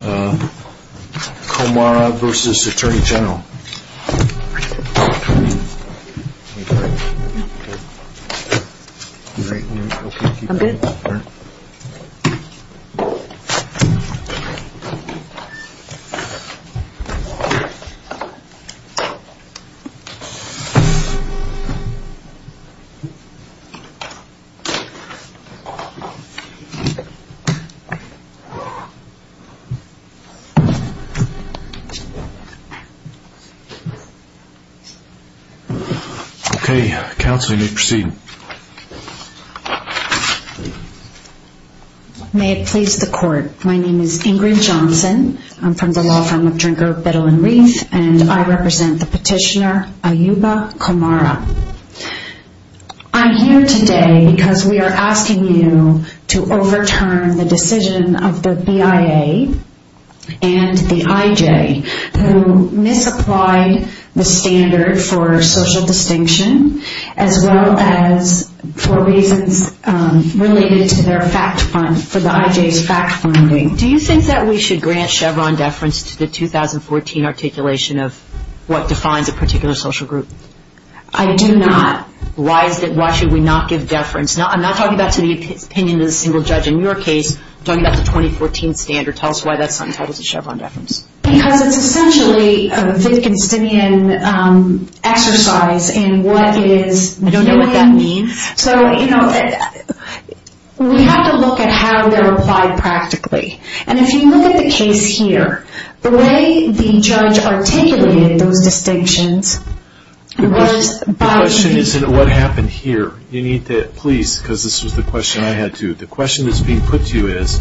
Comara v. Attorney General May it please the Court. My name is Ingrid Johnson. I'm from the law firm of Drinker, Biddle & Reith, and I represent the petitioner Ayuba Comara. I'm here today because we are here to talk about the 2014 standard. I'm here today to talk about the 2014 standard and the IJ who misapplied the standard for social distinction as well as for reasons related to their fact fund, for the IJ's fact funding. Do you think that we should grant Chevron deference to the 2014 articulation of what is entitled to Chevron deference? Because it's essentially a Wittgensteinian exercise in what is... I don't know what that means. So, you know, we have to look at how they're applied practically. And if you look at the case here, the way the judge articulated those distinctions was by... The question isn't what happened here. You need to, please, because this was the question that's being put to you is,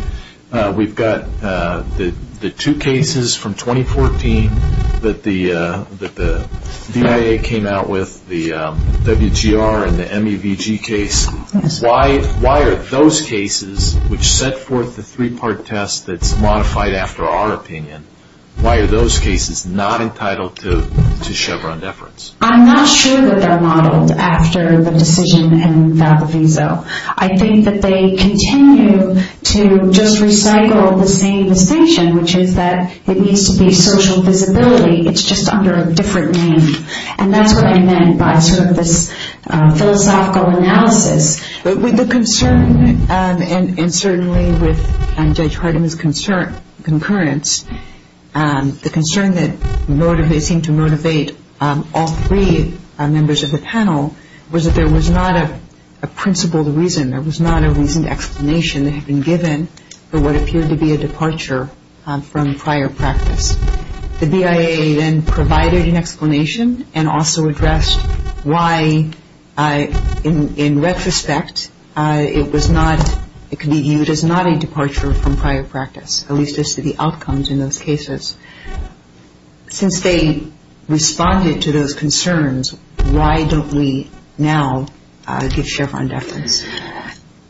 we've got the two cases from 2014 that the DIA came out with, the WGR and the MEVG case. Why are those cases, which set forth the three-part test that's modified after our opinion, why are those cases not entitled to Chevron deference? I'm not sure that they're modeled after the decision in Valdoviso. I think that they continue to just recycle the same distinction, which is that it needs to be social visibility. It's just under a different name. And that's what I meant by sort of this philosophical analysis. But with the concern, and certainly with Judge Hardiman's concurrence, the concern that they came to motivate all three members of the panel was that there was not a principled reason, there was not a reasoned explanation that had been given for what appeared to be a departure from prior practice. The DIA then provided an explanation and also addressed why, in retrospect, it was not, it could be viewed as not a departure from prior practice, at least as to the outcomes in those cases. Since they responded to those concerns, why don't we now give Chevron deference?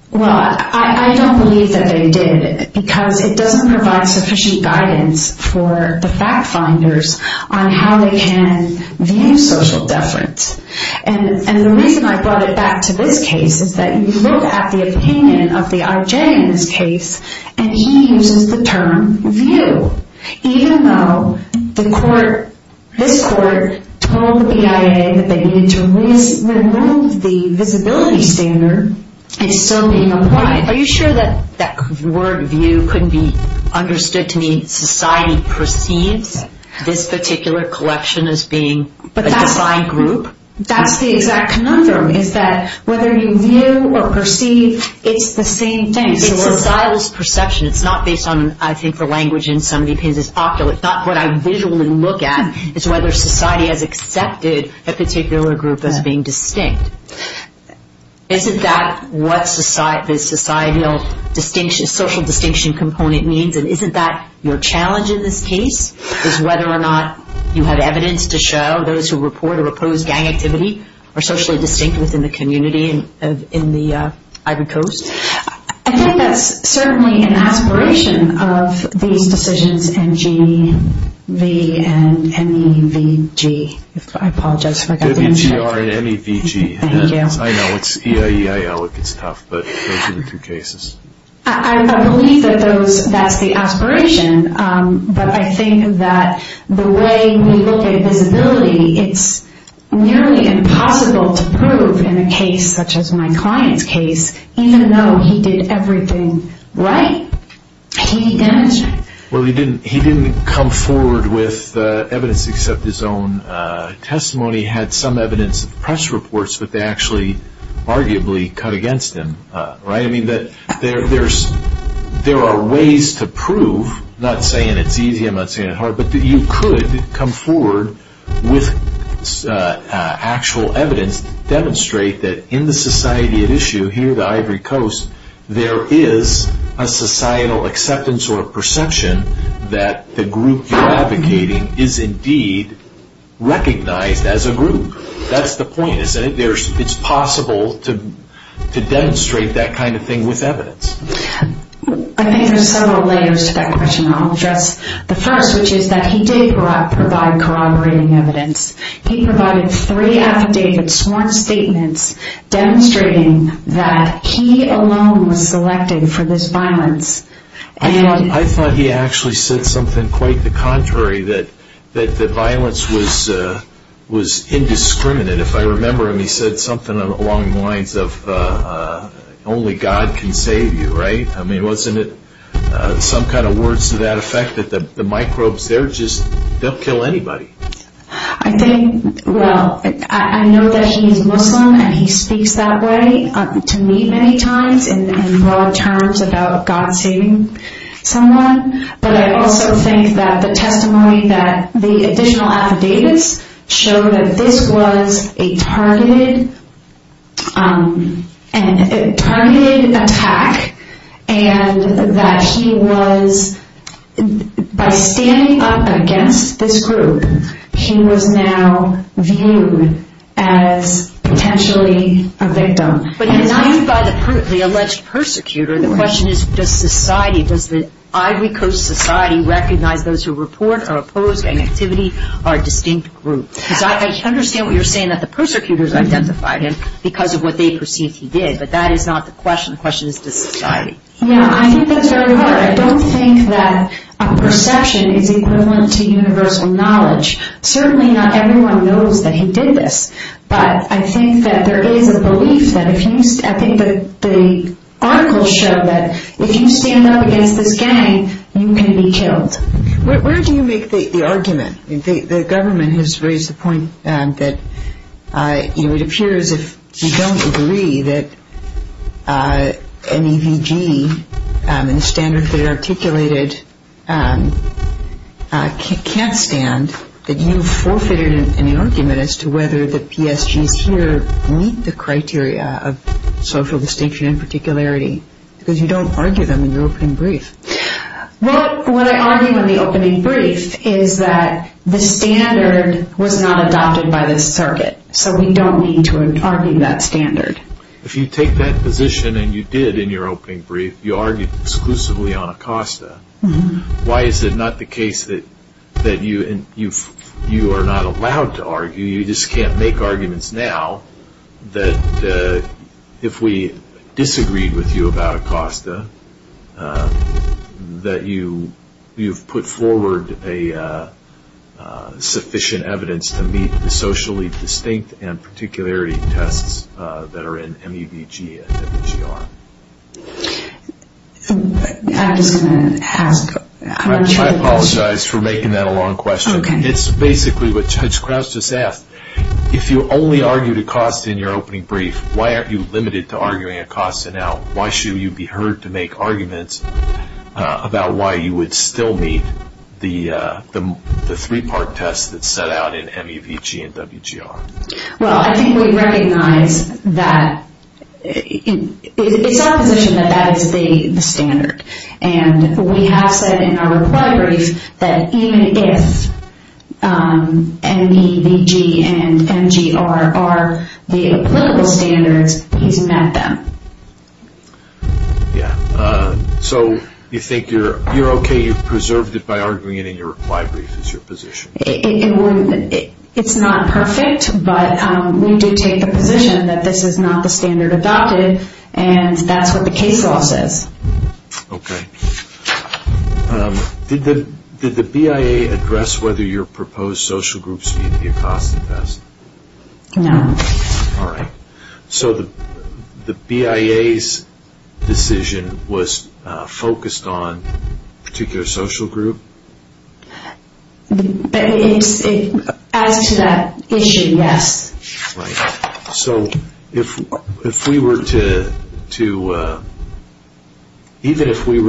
Well, I don't believe that they did, because it doesn't provide sufficient guidance for the fact-finders on how they can view social deference. And the reason I brought it back to this case is that you look at the opinion of the IJ in this case, and he uses the term view. Even though the court, this court, told the DIA that they needed to remove the visibility standard, it's still being applied. Are you sure that that word view couldn't be understood to mean society perceives this particular collection as being a defined group? That's the exact conundrum, is that whether you view or perceive, it's the same thing. It's societal perception. It's not based on, I think, the language in some of the opinions is ocular. It's not what I visually look at. It's whether society has accepted a particular group as being distinct. Isn't that what societal distinction, social distinction component means? And isn't that your challenge in this case, is whether or not you have evidence to show those who report or oppose gang activity are socially distinct within the community in the Ivory Coast? I think that's certainly an aspiration of these decisions, NGV and NEVG. I apologize if I got the NGV wrong. NEVG, N-E-V-G. Thank you. I know, it's E-I-E-I-L. It gets tough, but those are the two cases. I believe that that's the aspiration, but I think that the way we look at visibility, it's nearly impossible to prove in a case such as my client's case, even though he did everything right. He didn't. Well, he didn't come forward with evidence except his own testimony had some evidence of press reports that they actually arguably cut against him. I mean, there are ways to get actual evidence to demonstrate that in the society at issue here at the Ivory Coast, there is a societal acceptance or a perception that the group you're advocating is indeed recognized as a group. That's the point. It's possible to demonstrate that kind of thing with evidence. I think there's several layers to that question. I'll address the first, which is that he did not provide corroborating evidence. He provided three affidavit sworn statements demonstrating that he alone was selected for this violence. I thought he actually said something quite the contrary, that the violence was indiscriminate. If I remember him, he said something along the lines of, only God can save you, right? I mean, wasn't it some kind of words to that effect that the microbes there just don't kill anybody? I think, well, I know that he is Muslim and he speaks that way to me many times in broad terms about God saving someone, but I also think that the testimony that the additional affidavits showed that this was a targeted attack and that he was, by standing up against this group, he was now viewed as potentially a victim. But he was viewed by the alleged persecutor. The question is, does society, does the Ivory Coast society recognize those who report or oppose gang activity are a distinct group? Because I understand what you're saying, that the persecutors identified him because of what they perceived he did, but that is not the question. The question is, does society? Yeah, I think that's very hard. I don't think that a perception is equivalent to universal knowledge. Certainly not everyone knows that he did this, but I think that there is a belief that if you, I think the articles show that if you stand up against this gang, you can be killed. Where do you make the argument? The government has raised the point that it appears if you don't agree that an EVG and the standards that are articulated can't stand, that you forfeited an argument as to whether the PSGs here meet the criteria of social distinction and particularity. Because you don't argue them in your opening brief. What I argue in the opening brief is that the standard was not adopted by this circuit, so we don't need to argue that standard. If you take that position and you did in your opening brief, you argued exclusively on Acosta, why is it not the case that you are not allowed to argue, you just can't make arguments now, that if we disagreed with you about Acosta, that you've put forward sufficient evidence to meet the socially distinct and particularity tests that are in MEVG and EVGR? I'm just going to ask. I apologize for making that a long question. It's basically what Judge Krause just asked. If you only argued Acosta in your opening brief, why aren't you limited to arguing Acosta now? Why should you be heard to make arguments about why you would still meet the three-part test that's set out in MEVG and WGR? Well, I think we recognize that it's our position that that is the standard. And we have said in our reply brief that even if MEVG and MGR are the applicable standards, he's met them. So you think you're okay, you've preserved it by arguing it in your reply brief is your position. It's not perfect, but we do take the position that this is not the standard adopted. And that's what the case law says. Okay. Did the BIA address whether your proposed social groups meet the Acosta test? No. All right. So the BIA's decision was focused on a particular social group? As to that issue, yes. Right. So even if we were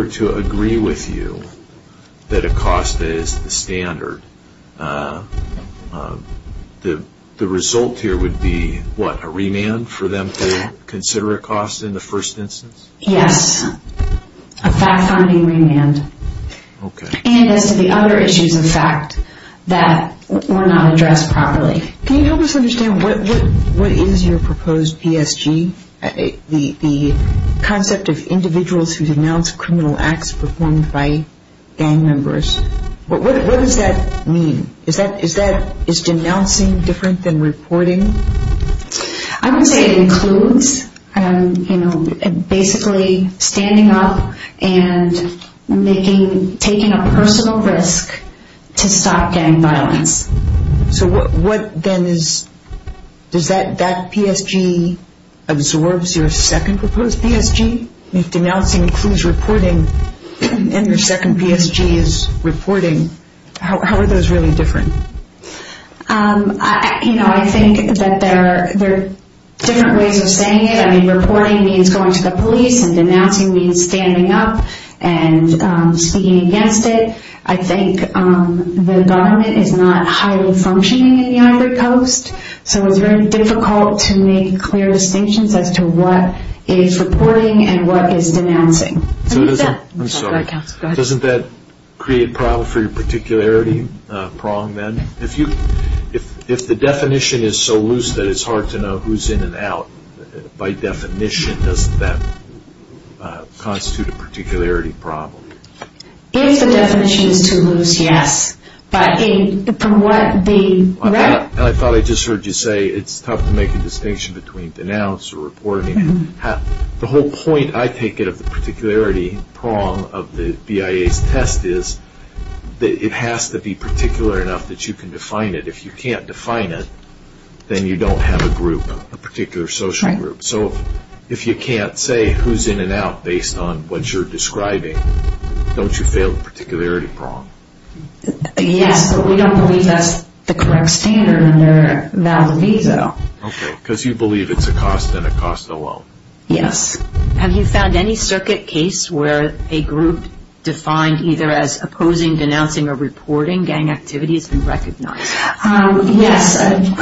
to agree with you that Acosta is the standard, the result here would be, what, a remand for them to consider Acosta in the first instance? Yes. A fact-finding remand. Okay. And as to the other issues of fact that were not addressed properly. Can you help us understand what is your proposed PSG? The concept of individuals who denounce criminal acts performed by gang members. What does that mean? Is denouncing different than reporting? I would say it includes basically standing up and taking a personal risk to stop gang violence. So what then is, does that PSG absorbs your second proposed PSG? If denouncing includes reporting and your second PSG is reporting, how are those really different? You know, I think that there are different ways of saying it. I mean, reporting means going to the police and denouncing means standing up and speaking against it. I think the government is not highly functioning in the Ivory Coast, so it's very difficult to make clear distinctions as to what is reporting and what is denouncing. I'm sorry. Doesn't that create a problem for your particularity prong then? If the definition is so loose that it's hard to know who's in and out, by definition, doesn't that constitute a particularity problem? If the definition is too loose, yes. But from what the right... I thought I just heard you say it's tough to make a distinction between denounce or reporting. The whole point, I take it, of the particularity prong of the BIA's test is that it has to be particular enough that you can define it. If you can't define it, then you don't have a group, a particular social group. So if you can't say who's in and out based on what you're describing, don't you fail the particularity prong? Yes, but we don't believe that's the correct standard under Malavisa. Okay, because you believe it's a cost and a cost alone. Yes. Have you found any circuit case where a group defined either as opposing, denouncing, or reporting gang activity has been recognized? Yes. And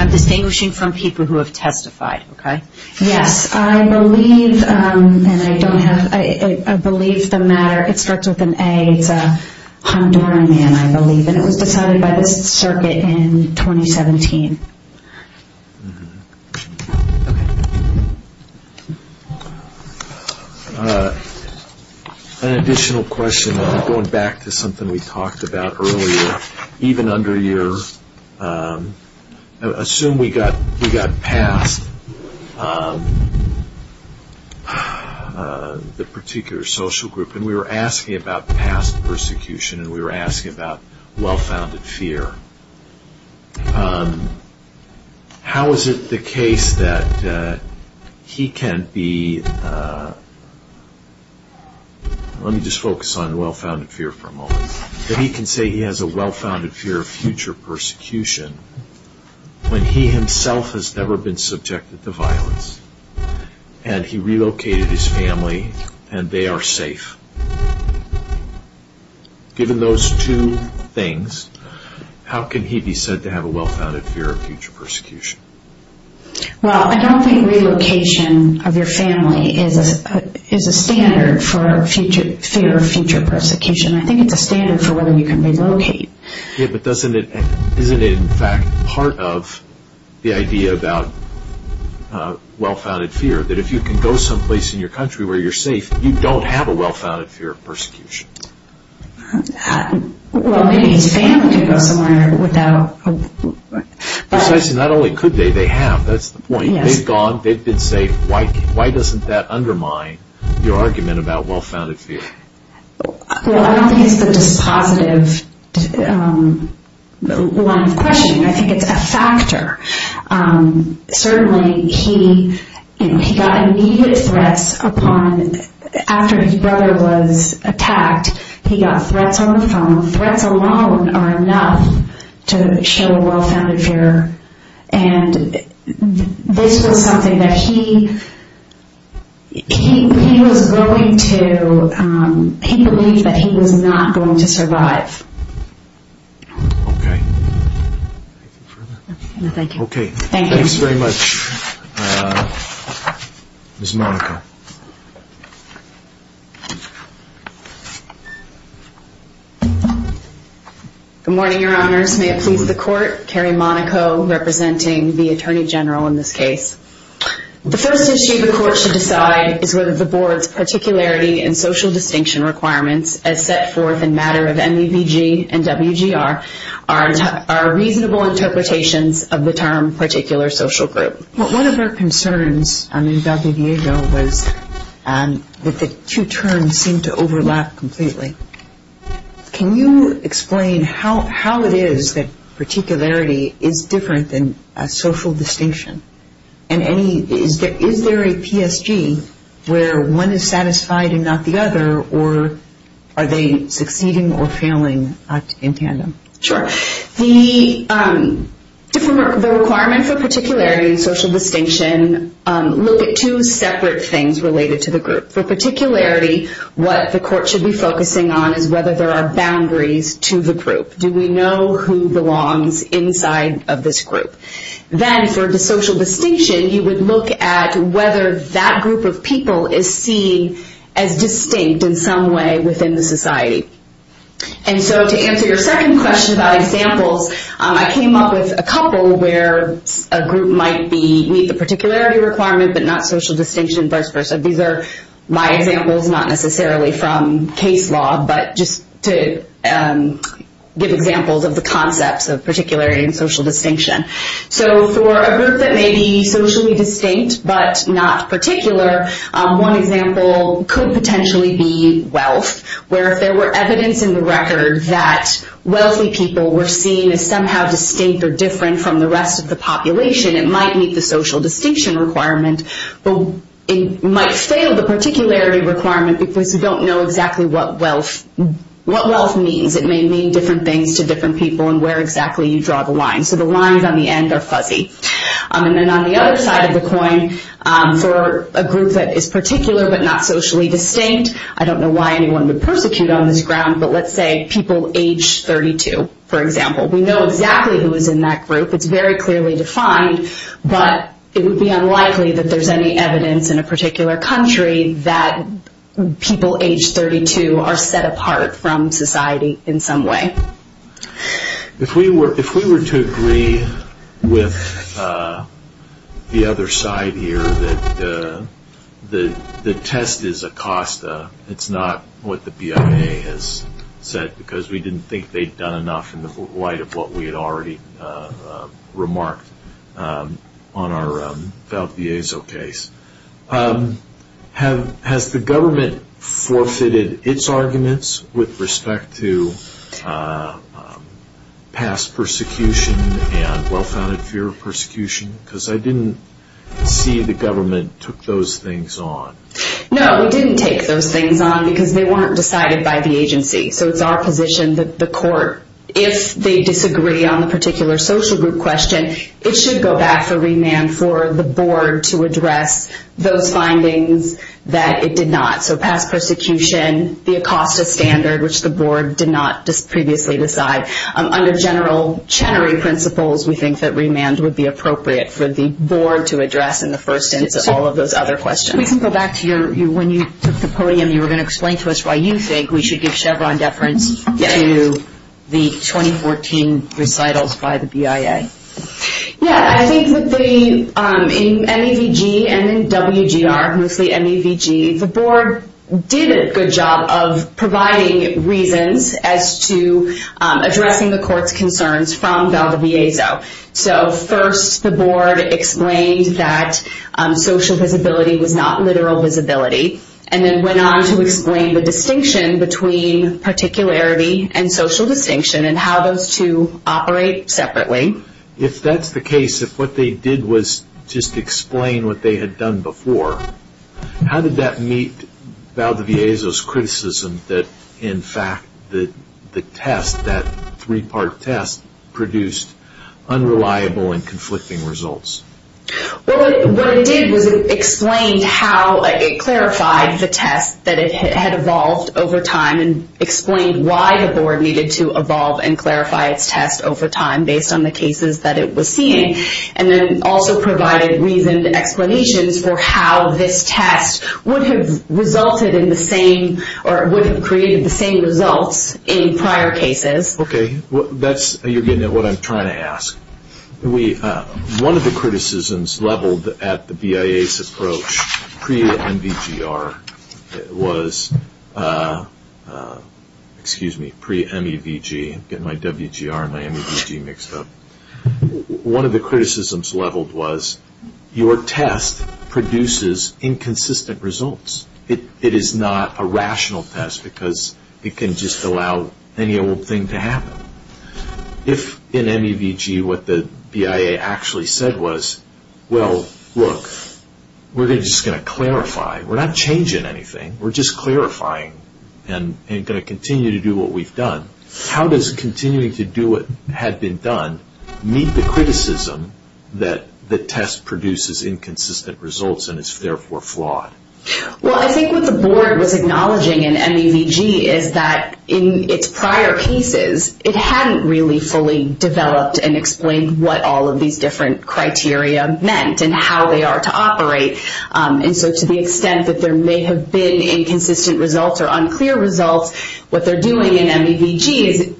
I'm distinguishing from people who have testified, okay? Yes. I believe, and I don't have... I believe the matter, it starts with an A. It's a Honduran man, I believe, and it was decided by this circuit in 2017. Okay. An additional question, going back to something we talked about earlier, even under your...assume we got past the particular social group and we were asking about past persecution and we were asking about well-founded fear. How is it the case that he can be... Let me just focus on well-founded fear for a moment. That he can say he has a well-founded fear of future persecution when he himself has never been subjected to violence and he relocated his family and they are safe? Given those two things, how can he be said to have a well-founded fear of future persecution? Well, I don't think relocation of your family is a standard for fear of future persecution. I think it's a standard for whether you can relocate. Yeah, but doesn't it...isn't it in fact part of the idea about well-founded fear that if you can go someplace in your country where you're safe, you don't have a well-founded fear of persecution? Well, maybe his family can go somewhere without... Precisely, not only could they, they have. That's the point. They've gone, they've been safe. Why doesn't that undermine your argument about well-founded fear? Well, I don't think it's the dispositive line of questioning. I think it's a factor. Certainly, he got immediate threats upon... After his brother was attacked, he got threats on the phone. Threats alone are enough to show a well-founded fear. And this was something that he... He was willing to... He believed that he was not going to survive. Okay. Anything further? No, thank you. Okay. Thanks very much, Ms. Monaco. Good morning, Your Honors. May it please the Court, Carrie Monaco representing the Attorney General in this case. The first issue the Court should decide is whether the Board's particularity and social distinction requirements as set forth in matter of MEVG and WGR are reasonable interpretations of the term particular social group. One of our concerns in WGR was that the two terms seem to overlap completely. Can you explain how it is that particularity is different than social distinction? And any... Is there a PSG where one is satisfied and not the other? Or are they succeeding or failing in tandem? Sure. The requirement for particularity and social distinction look at two separate things related to the group. For particularity, what the Court should be focusing on is whether there are boundaries to the group. Do we know who belongs inside of this group? Then for social distinction, you would look at whether that group of people is seen as distinct in some way within the society. To answer your second question about examples, I came up with a couple where a group might meet the particularity requirement but not social distinction and vice versa. These are my examples, not necessarily from case law, but just to give examples of the concepts of particularity and social distinction. For a group that may be socially distinct but not particular, one example could potentially be wealth, where if there were evidence in the record that wealthy people were seen as somehow distinct or different from the rest of the population, it might meet the social distinction requirement, but it might fail the particularity requirement because you don't know exactly what wealth means. It may mean different things to different people and where exactly you draw the line. So the lines on the end are fuzzy. On the other side of the coin, for a group that is particular but not socially distinct, I don't know why anyone would persecute on this ground, but let's say people age 32, for example. We know exactly who is in that group. It's very clearly defined, but it would be unlikely that there's any evidence in a particular country that people age 32 are set apart from society in some way. If we were to agree with the other side here, that the test is a cost, it's not what the BIA has said because we didn't think they'd done enough in the light of what we had already remarked on our Valdezzo case, has the government forfeited its arguments with respect to past persecution and well-founded fear of persecution? Because I didn't see the government took those things on. No, we didn't take those things on because they weren't decided by the agency. So it's our position that the court, if they disagree on the particular social group question, it should go back to remand for the board to address those findings that it did not. So past persecution, the ACOSTA standard, which the board did not previously decide. Under general Chenery principles, we think that remand would be appropriate for the board to address in the first instance all of those other questions. If we can go back to when you took the podium, you were going to explain to us why you think we should give Chevron deference to the 2014 recitals by the BIA. Yeah, I think that in MEVG and in WGR, mostly MEVG, the board did a good job of providing reasons as to addressing the court's concerns from Valdezzo. So first the board explained that social visibility was not literal visibility, and then went on to explain the distinction between particularity and social distinction and how those two operate separately. If that's the case, if what they did was just explain what they had done before, how did that meet Valdezzo's criticism that in fact the test, that three-part test, produced unreliable and conflicting results? What it did was it explained how it clarified the test that it had evolved over time and explained why the board needed to evolve and clarify its test over time based on the cases that it was seeing, and then also provided reasoned explanations for how this test would have resulted in the same or would have created the same results in prior cases. Okay, you're getting at what I'm trying to ask. One of the criticisms leveled at the BIA's approach pre-MEVG was, excuse me, pre-MEVG, I'm getting my WGR and my MEVG mixed up. One of the criticisms leveled was your test produces inconsistent results. It is not a rational test because it can just allow any old thing to happen. If in MEVG what the BIA actually said was, well, look, we're just going to clarify, we're not changing anything, we're just clarifying and going to continue to do what we've done, how does continuing to do what had been done meet the criticism that the test produces inconsistent results and is therefore flawed? Well, I think what the board was acknowledging in MEVG is that in its prior cases, it hadn't really fully developed and explained what all of these different criteria meant and how they are to operate. And so to the extent that there may have been inconsistent results or unclear results, what they're doing in MEVG is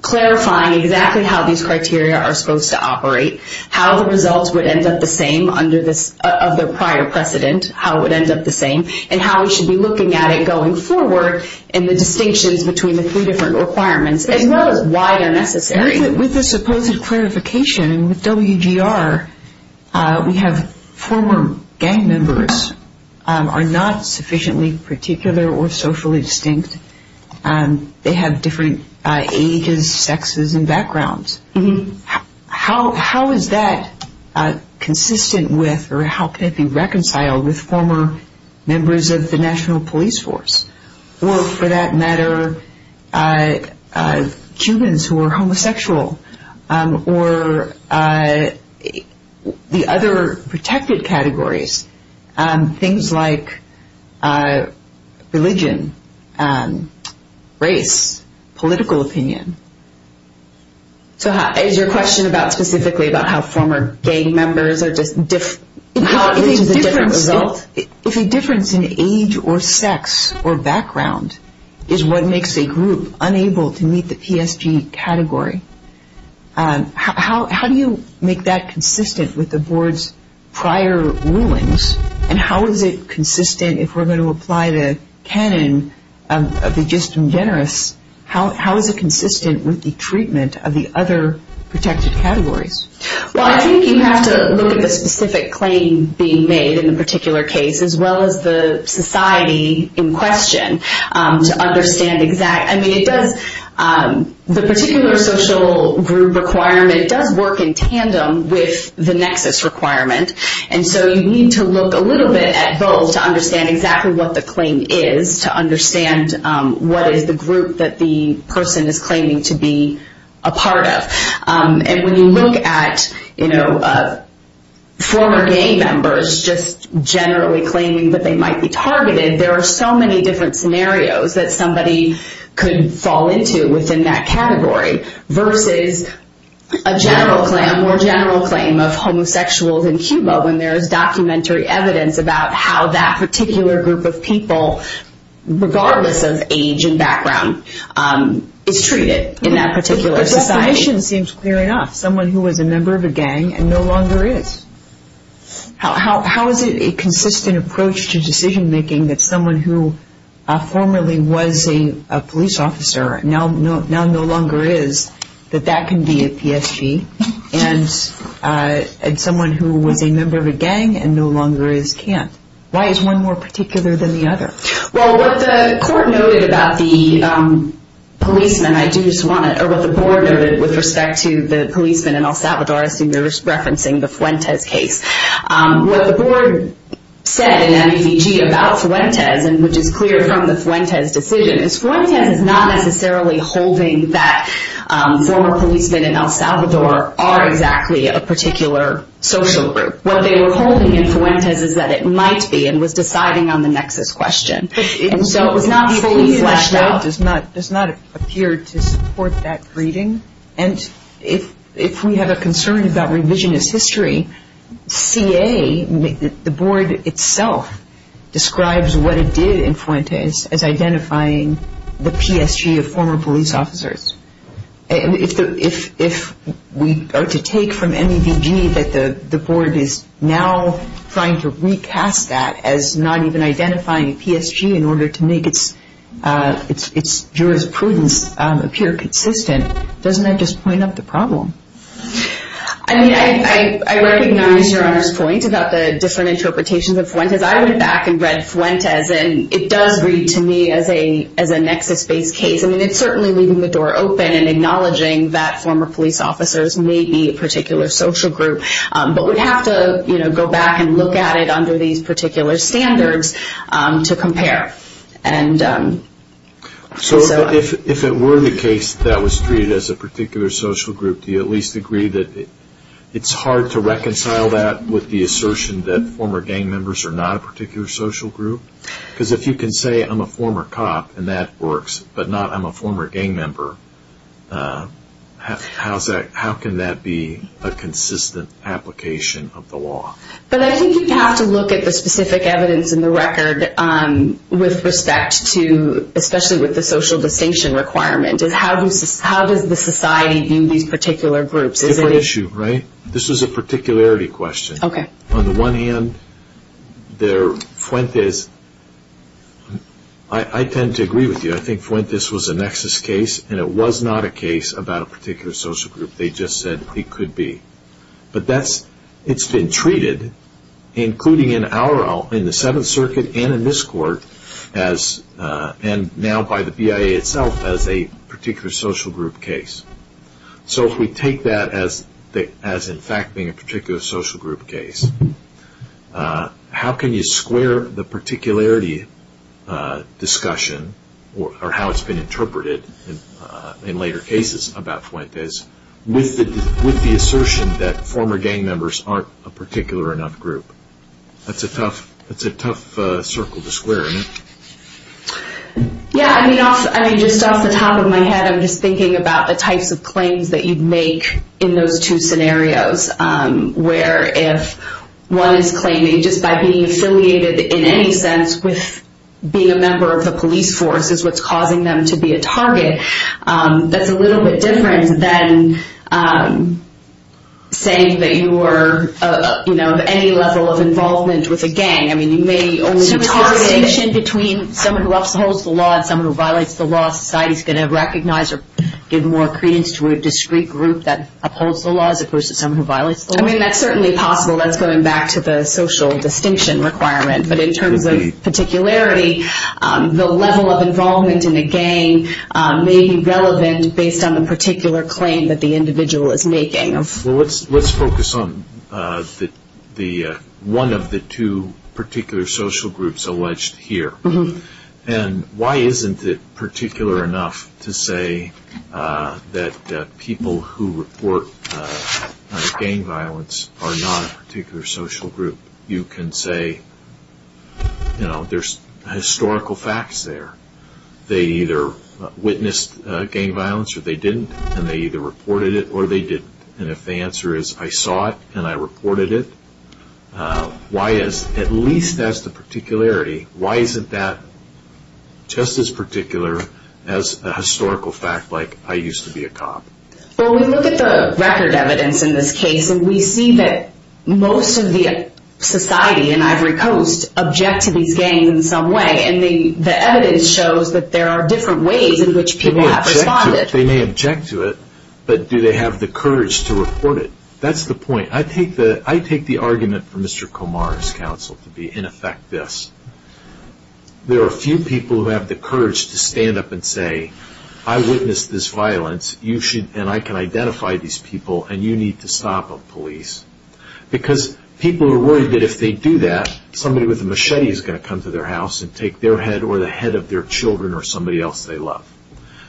clarifying exactly how these criteria are supposed to operate, how the results would end up the same under this other prior precedent, how it would end up the same and how we should be looking at it going forward and the distinctions between the three different requirements as well as why they're necessary. With the supposed clarification, with WGR, we have former gang members are not sufficiently particular or socially distinct. They have different ages, sexes and backgrounds. How is that consistent with or how can it be reconciled with former members of the National Police Force or, for that matter, humans who are homosexual or the other protected categories, things like religion, race, political opinion? So is your question specifically about how former gang members are just different? Which is a different result? If a difference in age or sex or background is what makes a group unable to meet the PSG category, how do you make that consistent with the Board's prior rulings and how is it consistent if we're going to apply the canon of the just and generous, how is it consistent with the treatment of the other protected categories? Well, I think you have to look at the specific claim being made in the particular case as well as the society in question to understand exact... I mean, it does... The particular social group requirement does work in tandem with the nexus requirement and so you need to look a little bit at both to understand exactly what the claim is to understand what is the group that the person is claiming to be a part of. And when you look at, you know, former gang members just generally claiming that they might be targeted, there are so many different scenarios that somebody could fall into within that category versus a general claim, a more general claim of homosexuals in Cuba when there is documentary evidence about how that particular group of people, regardless of age and background, is treated in that particular society. The position seems clear enough. Someone who was a member of a gang and no longer is. How is it a consistent approach to decision-making that someone who formerly was a police officer and now no longer is, that that can be a PSG and someone who was a member of a gang and no longer is can't? Why is one more particular than the other? Well, what the court noted about the policeman, and I do just want to, or what the board noted with respect to the policeman in El Salvador, I assume you're just referencing the Fuentes case. What the board said in MEDG about Fuentes, and which is clear from the Fuentes decision, is Fuentes is not necessarily holding that former policemen in El Salvador are exactly a particular social group. What they were holding in Fuentes is that it might be and was deciding on the nexus question. And so it was not fully fleshed out. The law does not appear to support that reading. And if we have a concern about revisionist history, CA, the board itself, describes what it did in Fuentes as identifying the PSG of former police officers. If we are to take from MEDG that the board is now trying to recast that as not even identifying a PSG in order to make its jurisprudence appear consistent, doesn't that just point up the problem? I mean, I recognize Your Honor's point about the different interpretations of Fuentes. I went back and read Fuentes, and it does read to me as a nexus-based case. I mean, it's certainly leaving the door open and acknowledging that former police officers may be a particular social group, but we'd have to go back and look at it using particular standards to compare. So if it were the case that was treated as a particular social group, do you at least agree that it's hard to reconcile that with the assertion that former gang members are not a particular social group? Because if you can say, I'm a former cop, and that works, but not I'm a former gang member, how can that be a consistent application of the law? But I think you'd have to look at the specific evidence in the record with respect to, especially with the social distinction requirement. How does the society view these particular groups? It's a different issue, right? This is a particularity question. On the one hand, Fuentes... I tend to agree with you. I think Fuentes was a nexus case, and it was not a case about a particular social group. They just said it could be. But it's been treated, including in the Seventh Circuit and in this court, and now by the BIA itself, as a particular social group case. So if we take that as in fact being a particular social group case, how can you square the particularity discussion, or how it's been interpreted in later cases about Fuentes, with the assertion that former gang members aren't a particular enough group? That's a tough circle to square, isn't it? Yeah. I mean, just off the top of my head, I'm just thinking about the types of claims that you'd make in those two scenarios, where if one is claiming just by being affiliated in any sense with being a member of the police force is what's causing them to be a target, that's a little bit different than saying that you were of any level of involvement with a gang. I mean, you may only be a target. So is the distinction between someone who upholds the law and someone who violates the law, society's going to recognize or give more credence to a discrete group that upholds the law as opposed to someone who violates the law? I mean, that's certainly possible. That's going back to the social distinction requirement. But in terms of particularity, the level of involvement in a gang may be relevant based on the particular claim that the individual is making. Well, let's focus on one of the two particular social groups alleged here. And why isn't it particular enough to say that people who report gang violence are not a particular social group? You can say, you know, there's historical facts there. They either witnessed gang violence or they didn't, and they either reported it or they didn't. And if the answer is, I saw it and I reported it, at least that's the particularity. Why isn't that just as particular as a historical fact like, I used to be a cop? Well, we look at the record evidence in this case, and we see that most of the society in Ivory Coast object to these gangs in some way. And the evidence shows that there are different ways in which people have responded. They may object to it, but do they have the courage to report it? That's the point. I take the argument from Mr. Komar's counsel to be, in effect, this. There are few people who have the courage to stand up and say, I witnessed this violence, and I can identify these people, and you need to stop them, police. Because people are worried that if they do that, somebody with a machete is going to come to their house and take their head or the head of their children or somebody else they love.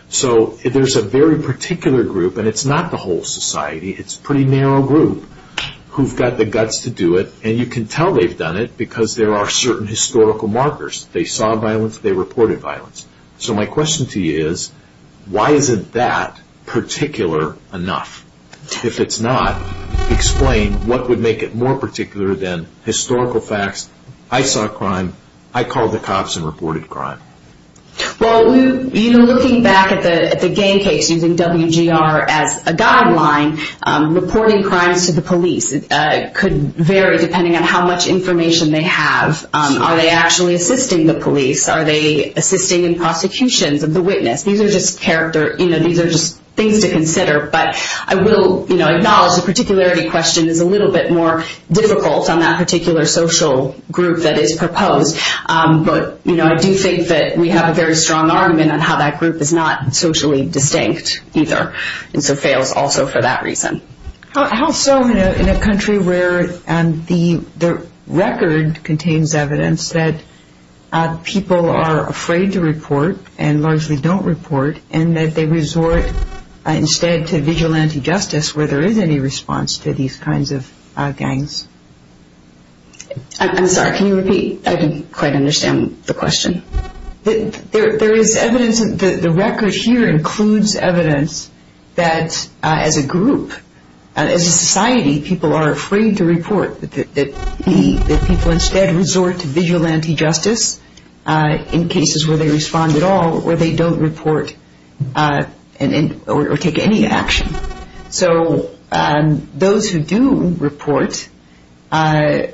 So there's a very particular group, and it's not the whole society. It's a pretty narrow group who've got the guts to do it, and you can tell they've done it because there are certain historical markers. They saw violence. They reported violence. So my question to you is, why isn't that particular enough? If it's not, explain what would make it more particular than historical facts. I saw crime. I called the cops and reported crime. Well, even looking back at the gang case using WGR as a guideline, reporting crimes to the police could vary depending on how much information they have. Are they actually assisting the police? Are they assisting in prosecutions of the witness? These are just things to consider, but I will acknowledge the particularity question is a little bit more difficult on that particular social group that is proposed, but I do think that we have a very strong argument on how that group is not socially distinct either and so fails also for that reason. How so in a country where the record contains evidence that people are afraid to report and largely don't report and that they resort instead to vigilante justice where there is any response to these kinds of gangs? I'm sorry. Can you repeat? I didn't quite understand the question. The record here includes evidence that as a group, as a society, people are afraid to report, that people instead resort to vigilante justice in cases where they respond at all or they don't report or take any action. So those who do report and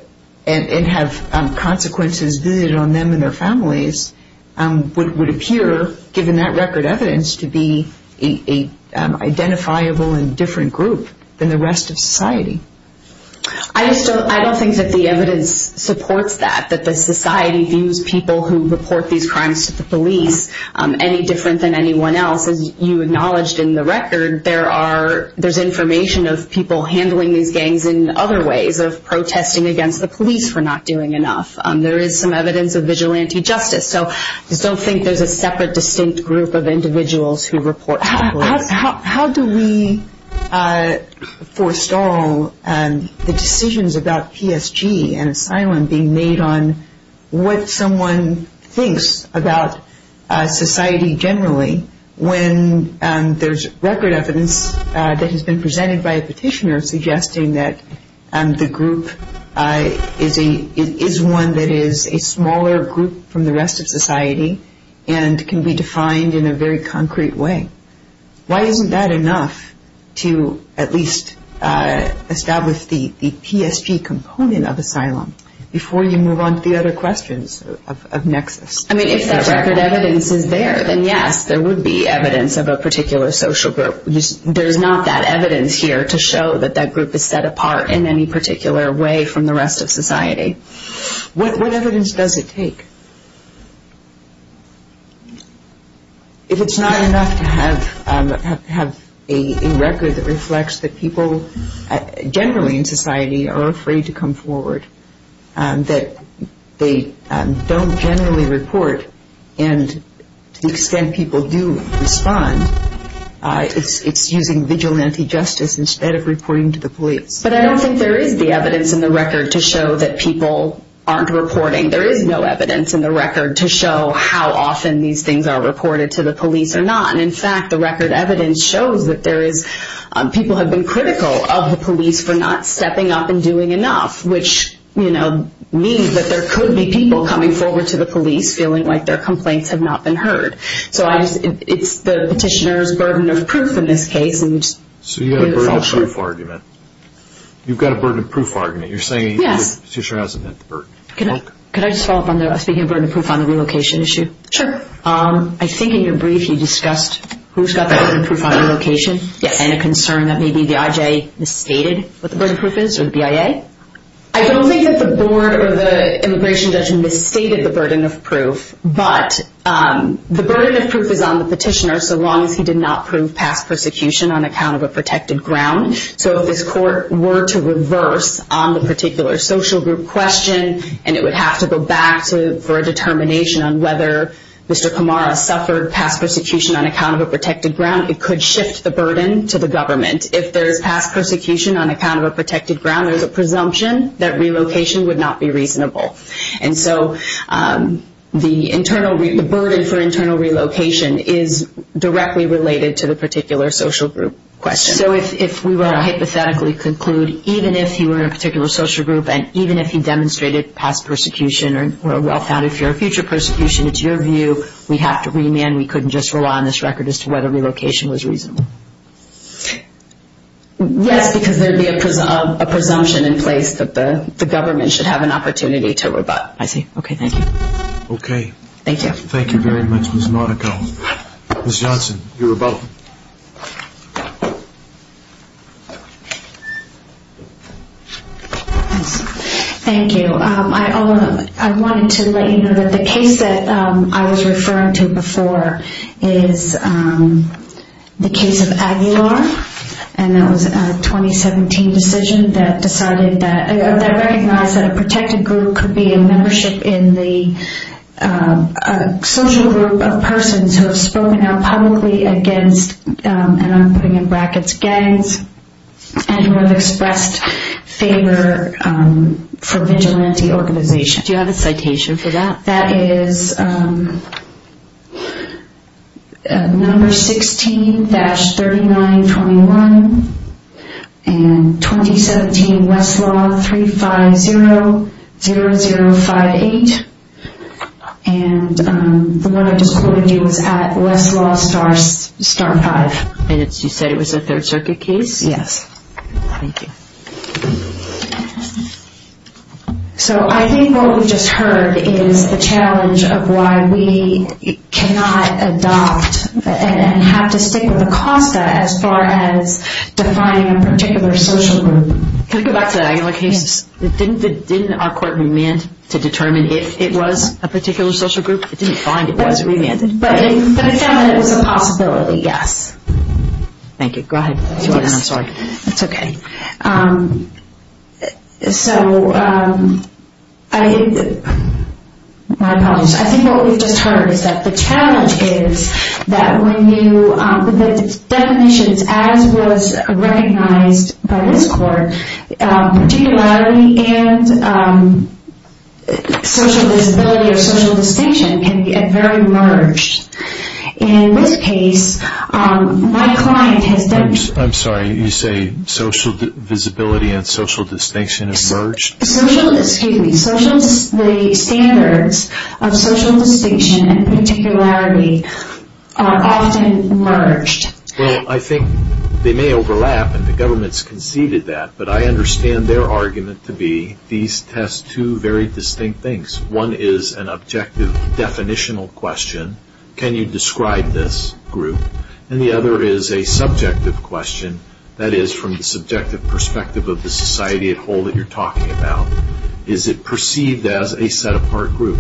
have consequences visited on them and their families would appear, given that record evidence, to be an identifiable and different group than the rest of society. I don't think that the evidence supports that, that the society views people who report these crimes to the police any different than anyone else. As you acknowledged in the record, there's information of people handling these gangs in other ways, of protesting against the police for not doing enough. There is some evidence of vigilante justice. So I just don't think there's a separate distinct group of individuals who report to the police. How do we forestall the decisions about PSG and asylum being made on what someone thinks about society generally when there's record evidence that has been presented by a petitioner suggesting that the group is one that is a smaller group from the rest of society and can be defined in a very concrete way? Why isn't that enough to at least establish the PSG component of asylum before you move on to the other questions of nexus? If that record evidence is there, then yes, there would be evidence of a particular social group. There's not that evidence here to show that that group is set apart in any particular way from the rest of society. What evidence does it take? If it's not enough to have a record that reflects that people generally in society are afraid to come forward, that they don't generally report, and to the extent people do respond, it's using vigilante justice instead of reporting to the police. But I don't think there is the evidence in the record to show that people aren't reporting. There is no evidence in the record to show how often these things are reported to the police or not. In fact, the record evidence shows that people have been critical of the police for not stepping up and doing enough, which means that there could be people coming forward to the police feeling like their complaints have not been heard. So it's the petitioner's burden of proof in this case. So you have a burden of proof argument. You've got a burden of proof argument. You're saying the petitioner hasn't met the burden. Can I just follow up on that, speaking of burden of proof on the relocation issue? Sure. I think in your brief you discussed who's got the burden of proof on relocation and a concern that maybe the IJ misstated what the burden of proof is or the BIA. I don't think that the board or the immigration judge misstated the burden of proof, but the burden of proof is on the petitioner so long as he did not prove past persecution on account of a protected ground. So if this court were to reverse on the particular social group question and it would have to go back for a determination on whether Mr. Kamara suffered past persecution on account of a protected ground, it could shift the burden to the government. If there's past persecution on account of a protected ground, there's a presumption that relocation would not be reasonable. And so the burden for internal relocation is directly related to the particular social group question. So if we were to hypothetically conclude even if he were in a particular social group and even if he demonstrated past persecution or a well-founded fear of future persecution, it's your view we have to remand, we couldn't just rely on this record as to whether relocation was reasonable? Yes, because there would be a presumption in place that the government should have an opportunity to rebut. I see. Okay, thank you. Okay. Thank you. Thank you very much, Ms. Monaco. Ms. Johnson, you're about. Thank you. I wanted to let you know that the case that I was referring to before is the case of Aguilar, and that was a 2017 decision that decided that, that recognized that a protected group could be a membership in the social group of persons who have spoken out publicly against, and I'm putting in brackets, and who have expressed favor for vigilante organization. Do you have a citation for that? That is number 16-3921, and 2017 Westlaw 3500058, and the one I just quoted you was at Westlaw Star 5. And you said it was a Third Circuit case? Yes. Thank you. So I think what we just heard is the challenge of why we cannot adopt and have to stick with ACOSTA as far as defining a particular social group. Can we go back to the Aguilar case? Yes. Didn't our court remand to determine if it was a particular social group? It didn't find it was, it remanded. But it found that it was a possibility, yes. Thank you. Go ahead. I'm sorry. It's okay. So I think what we've just heard is that the challenge is that when you, the definitions as was recognized by this court, particularity and social visibility or social distinction can get very merged. In this case, my client has done. I'm sorry. You say social visibility and social distinction have merged? Excuse me. The standards of social distinction and particularity are often merged. Well, I think they may overlap, and the government's conceded that, but I understand their argument to be these test two very distinct things. One is an objective definitional question. Can you describe this group? And the other is a subjective question, that is from the subjective perspective of the society at whole that you're talking about. Is it perceived as a set-apart group,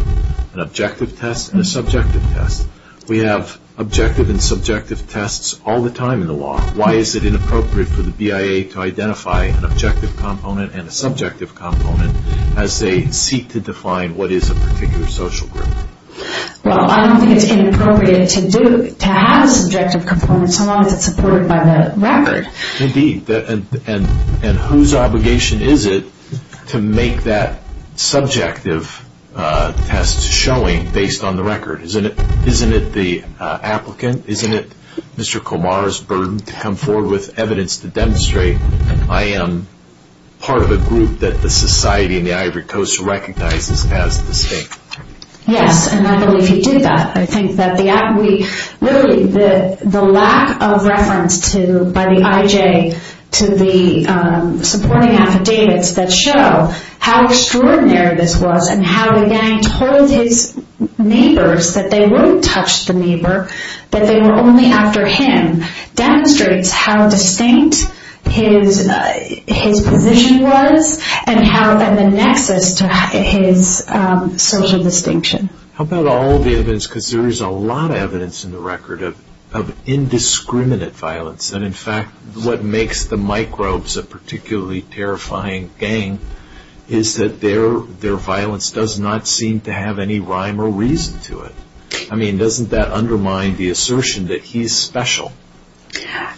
an objective test and a subjective test? We have objective and subjective tests all the time in the law. Why is it inappropriate for the BIA to identify an objective component and a subjective component as they seek to define what is a particular social group? Well, I don't think it's inappropriate to have a subjective component so long as it's supported by the record. Indeed. And whose obligation is it to make that subjective test showing based on the record? Isn't it the applicant, isn't it Mr. Komar's burden to come forward with evidence to demonstrate I am part of a group that the society in the Ivory Coast recognizes as distinct? Yes, and I believe he did that. I think that the lack of reference by the IJ to the supporting affidavits that show how extraordinary this was and how the gang told his neighbors that they wouldn't touch the neighbor, that they were only after him, demonstrates how distinct his position was and the nexus to his social distinction. How about all the evidence? Because there is a lot of evidence in the record of indiscriminate violence and, in fact, what makes the microbes a particularly terrifying gang is that their violence does not seem to have any rhyme or reason to it. I mean, doesn't that undermine the assertion that he's special?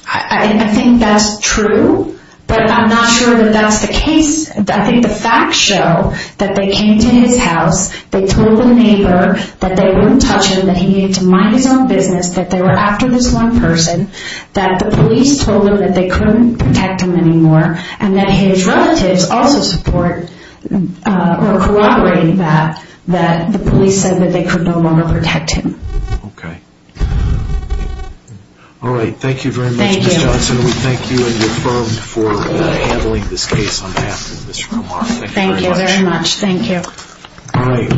I think that's true, but I'm not sure that that's the case. I think the facts show that they came to his house, they told the neighbor that they wouldn't touch him, that he needed to mind his own business, that they were after this one person, that the police told them that they couldn't protect him anymore, and that his relatives also corroborated that, that the police said that they could no longer protect him. Okay. All right, thank you very much, Ms. Johnson. We thank you and your firm for handling this case on behalf of Ms. Romar. Thank you very much. Thank you.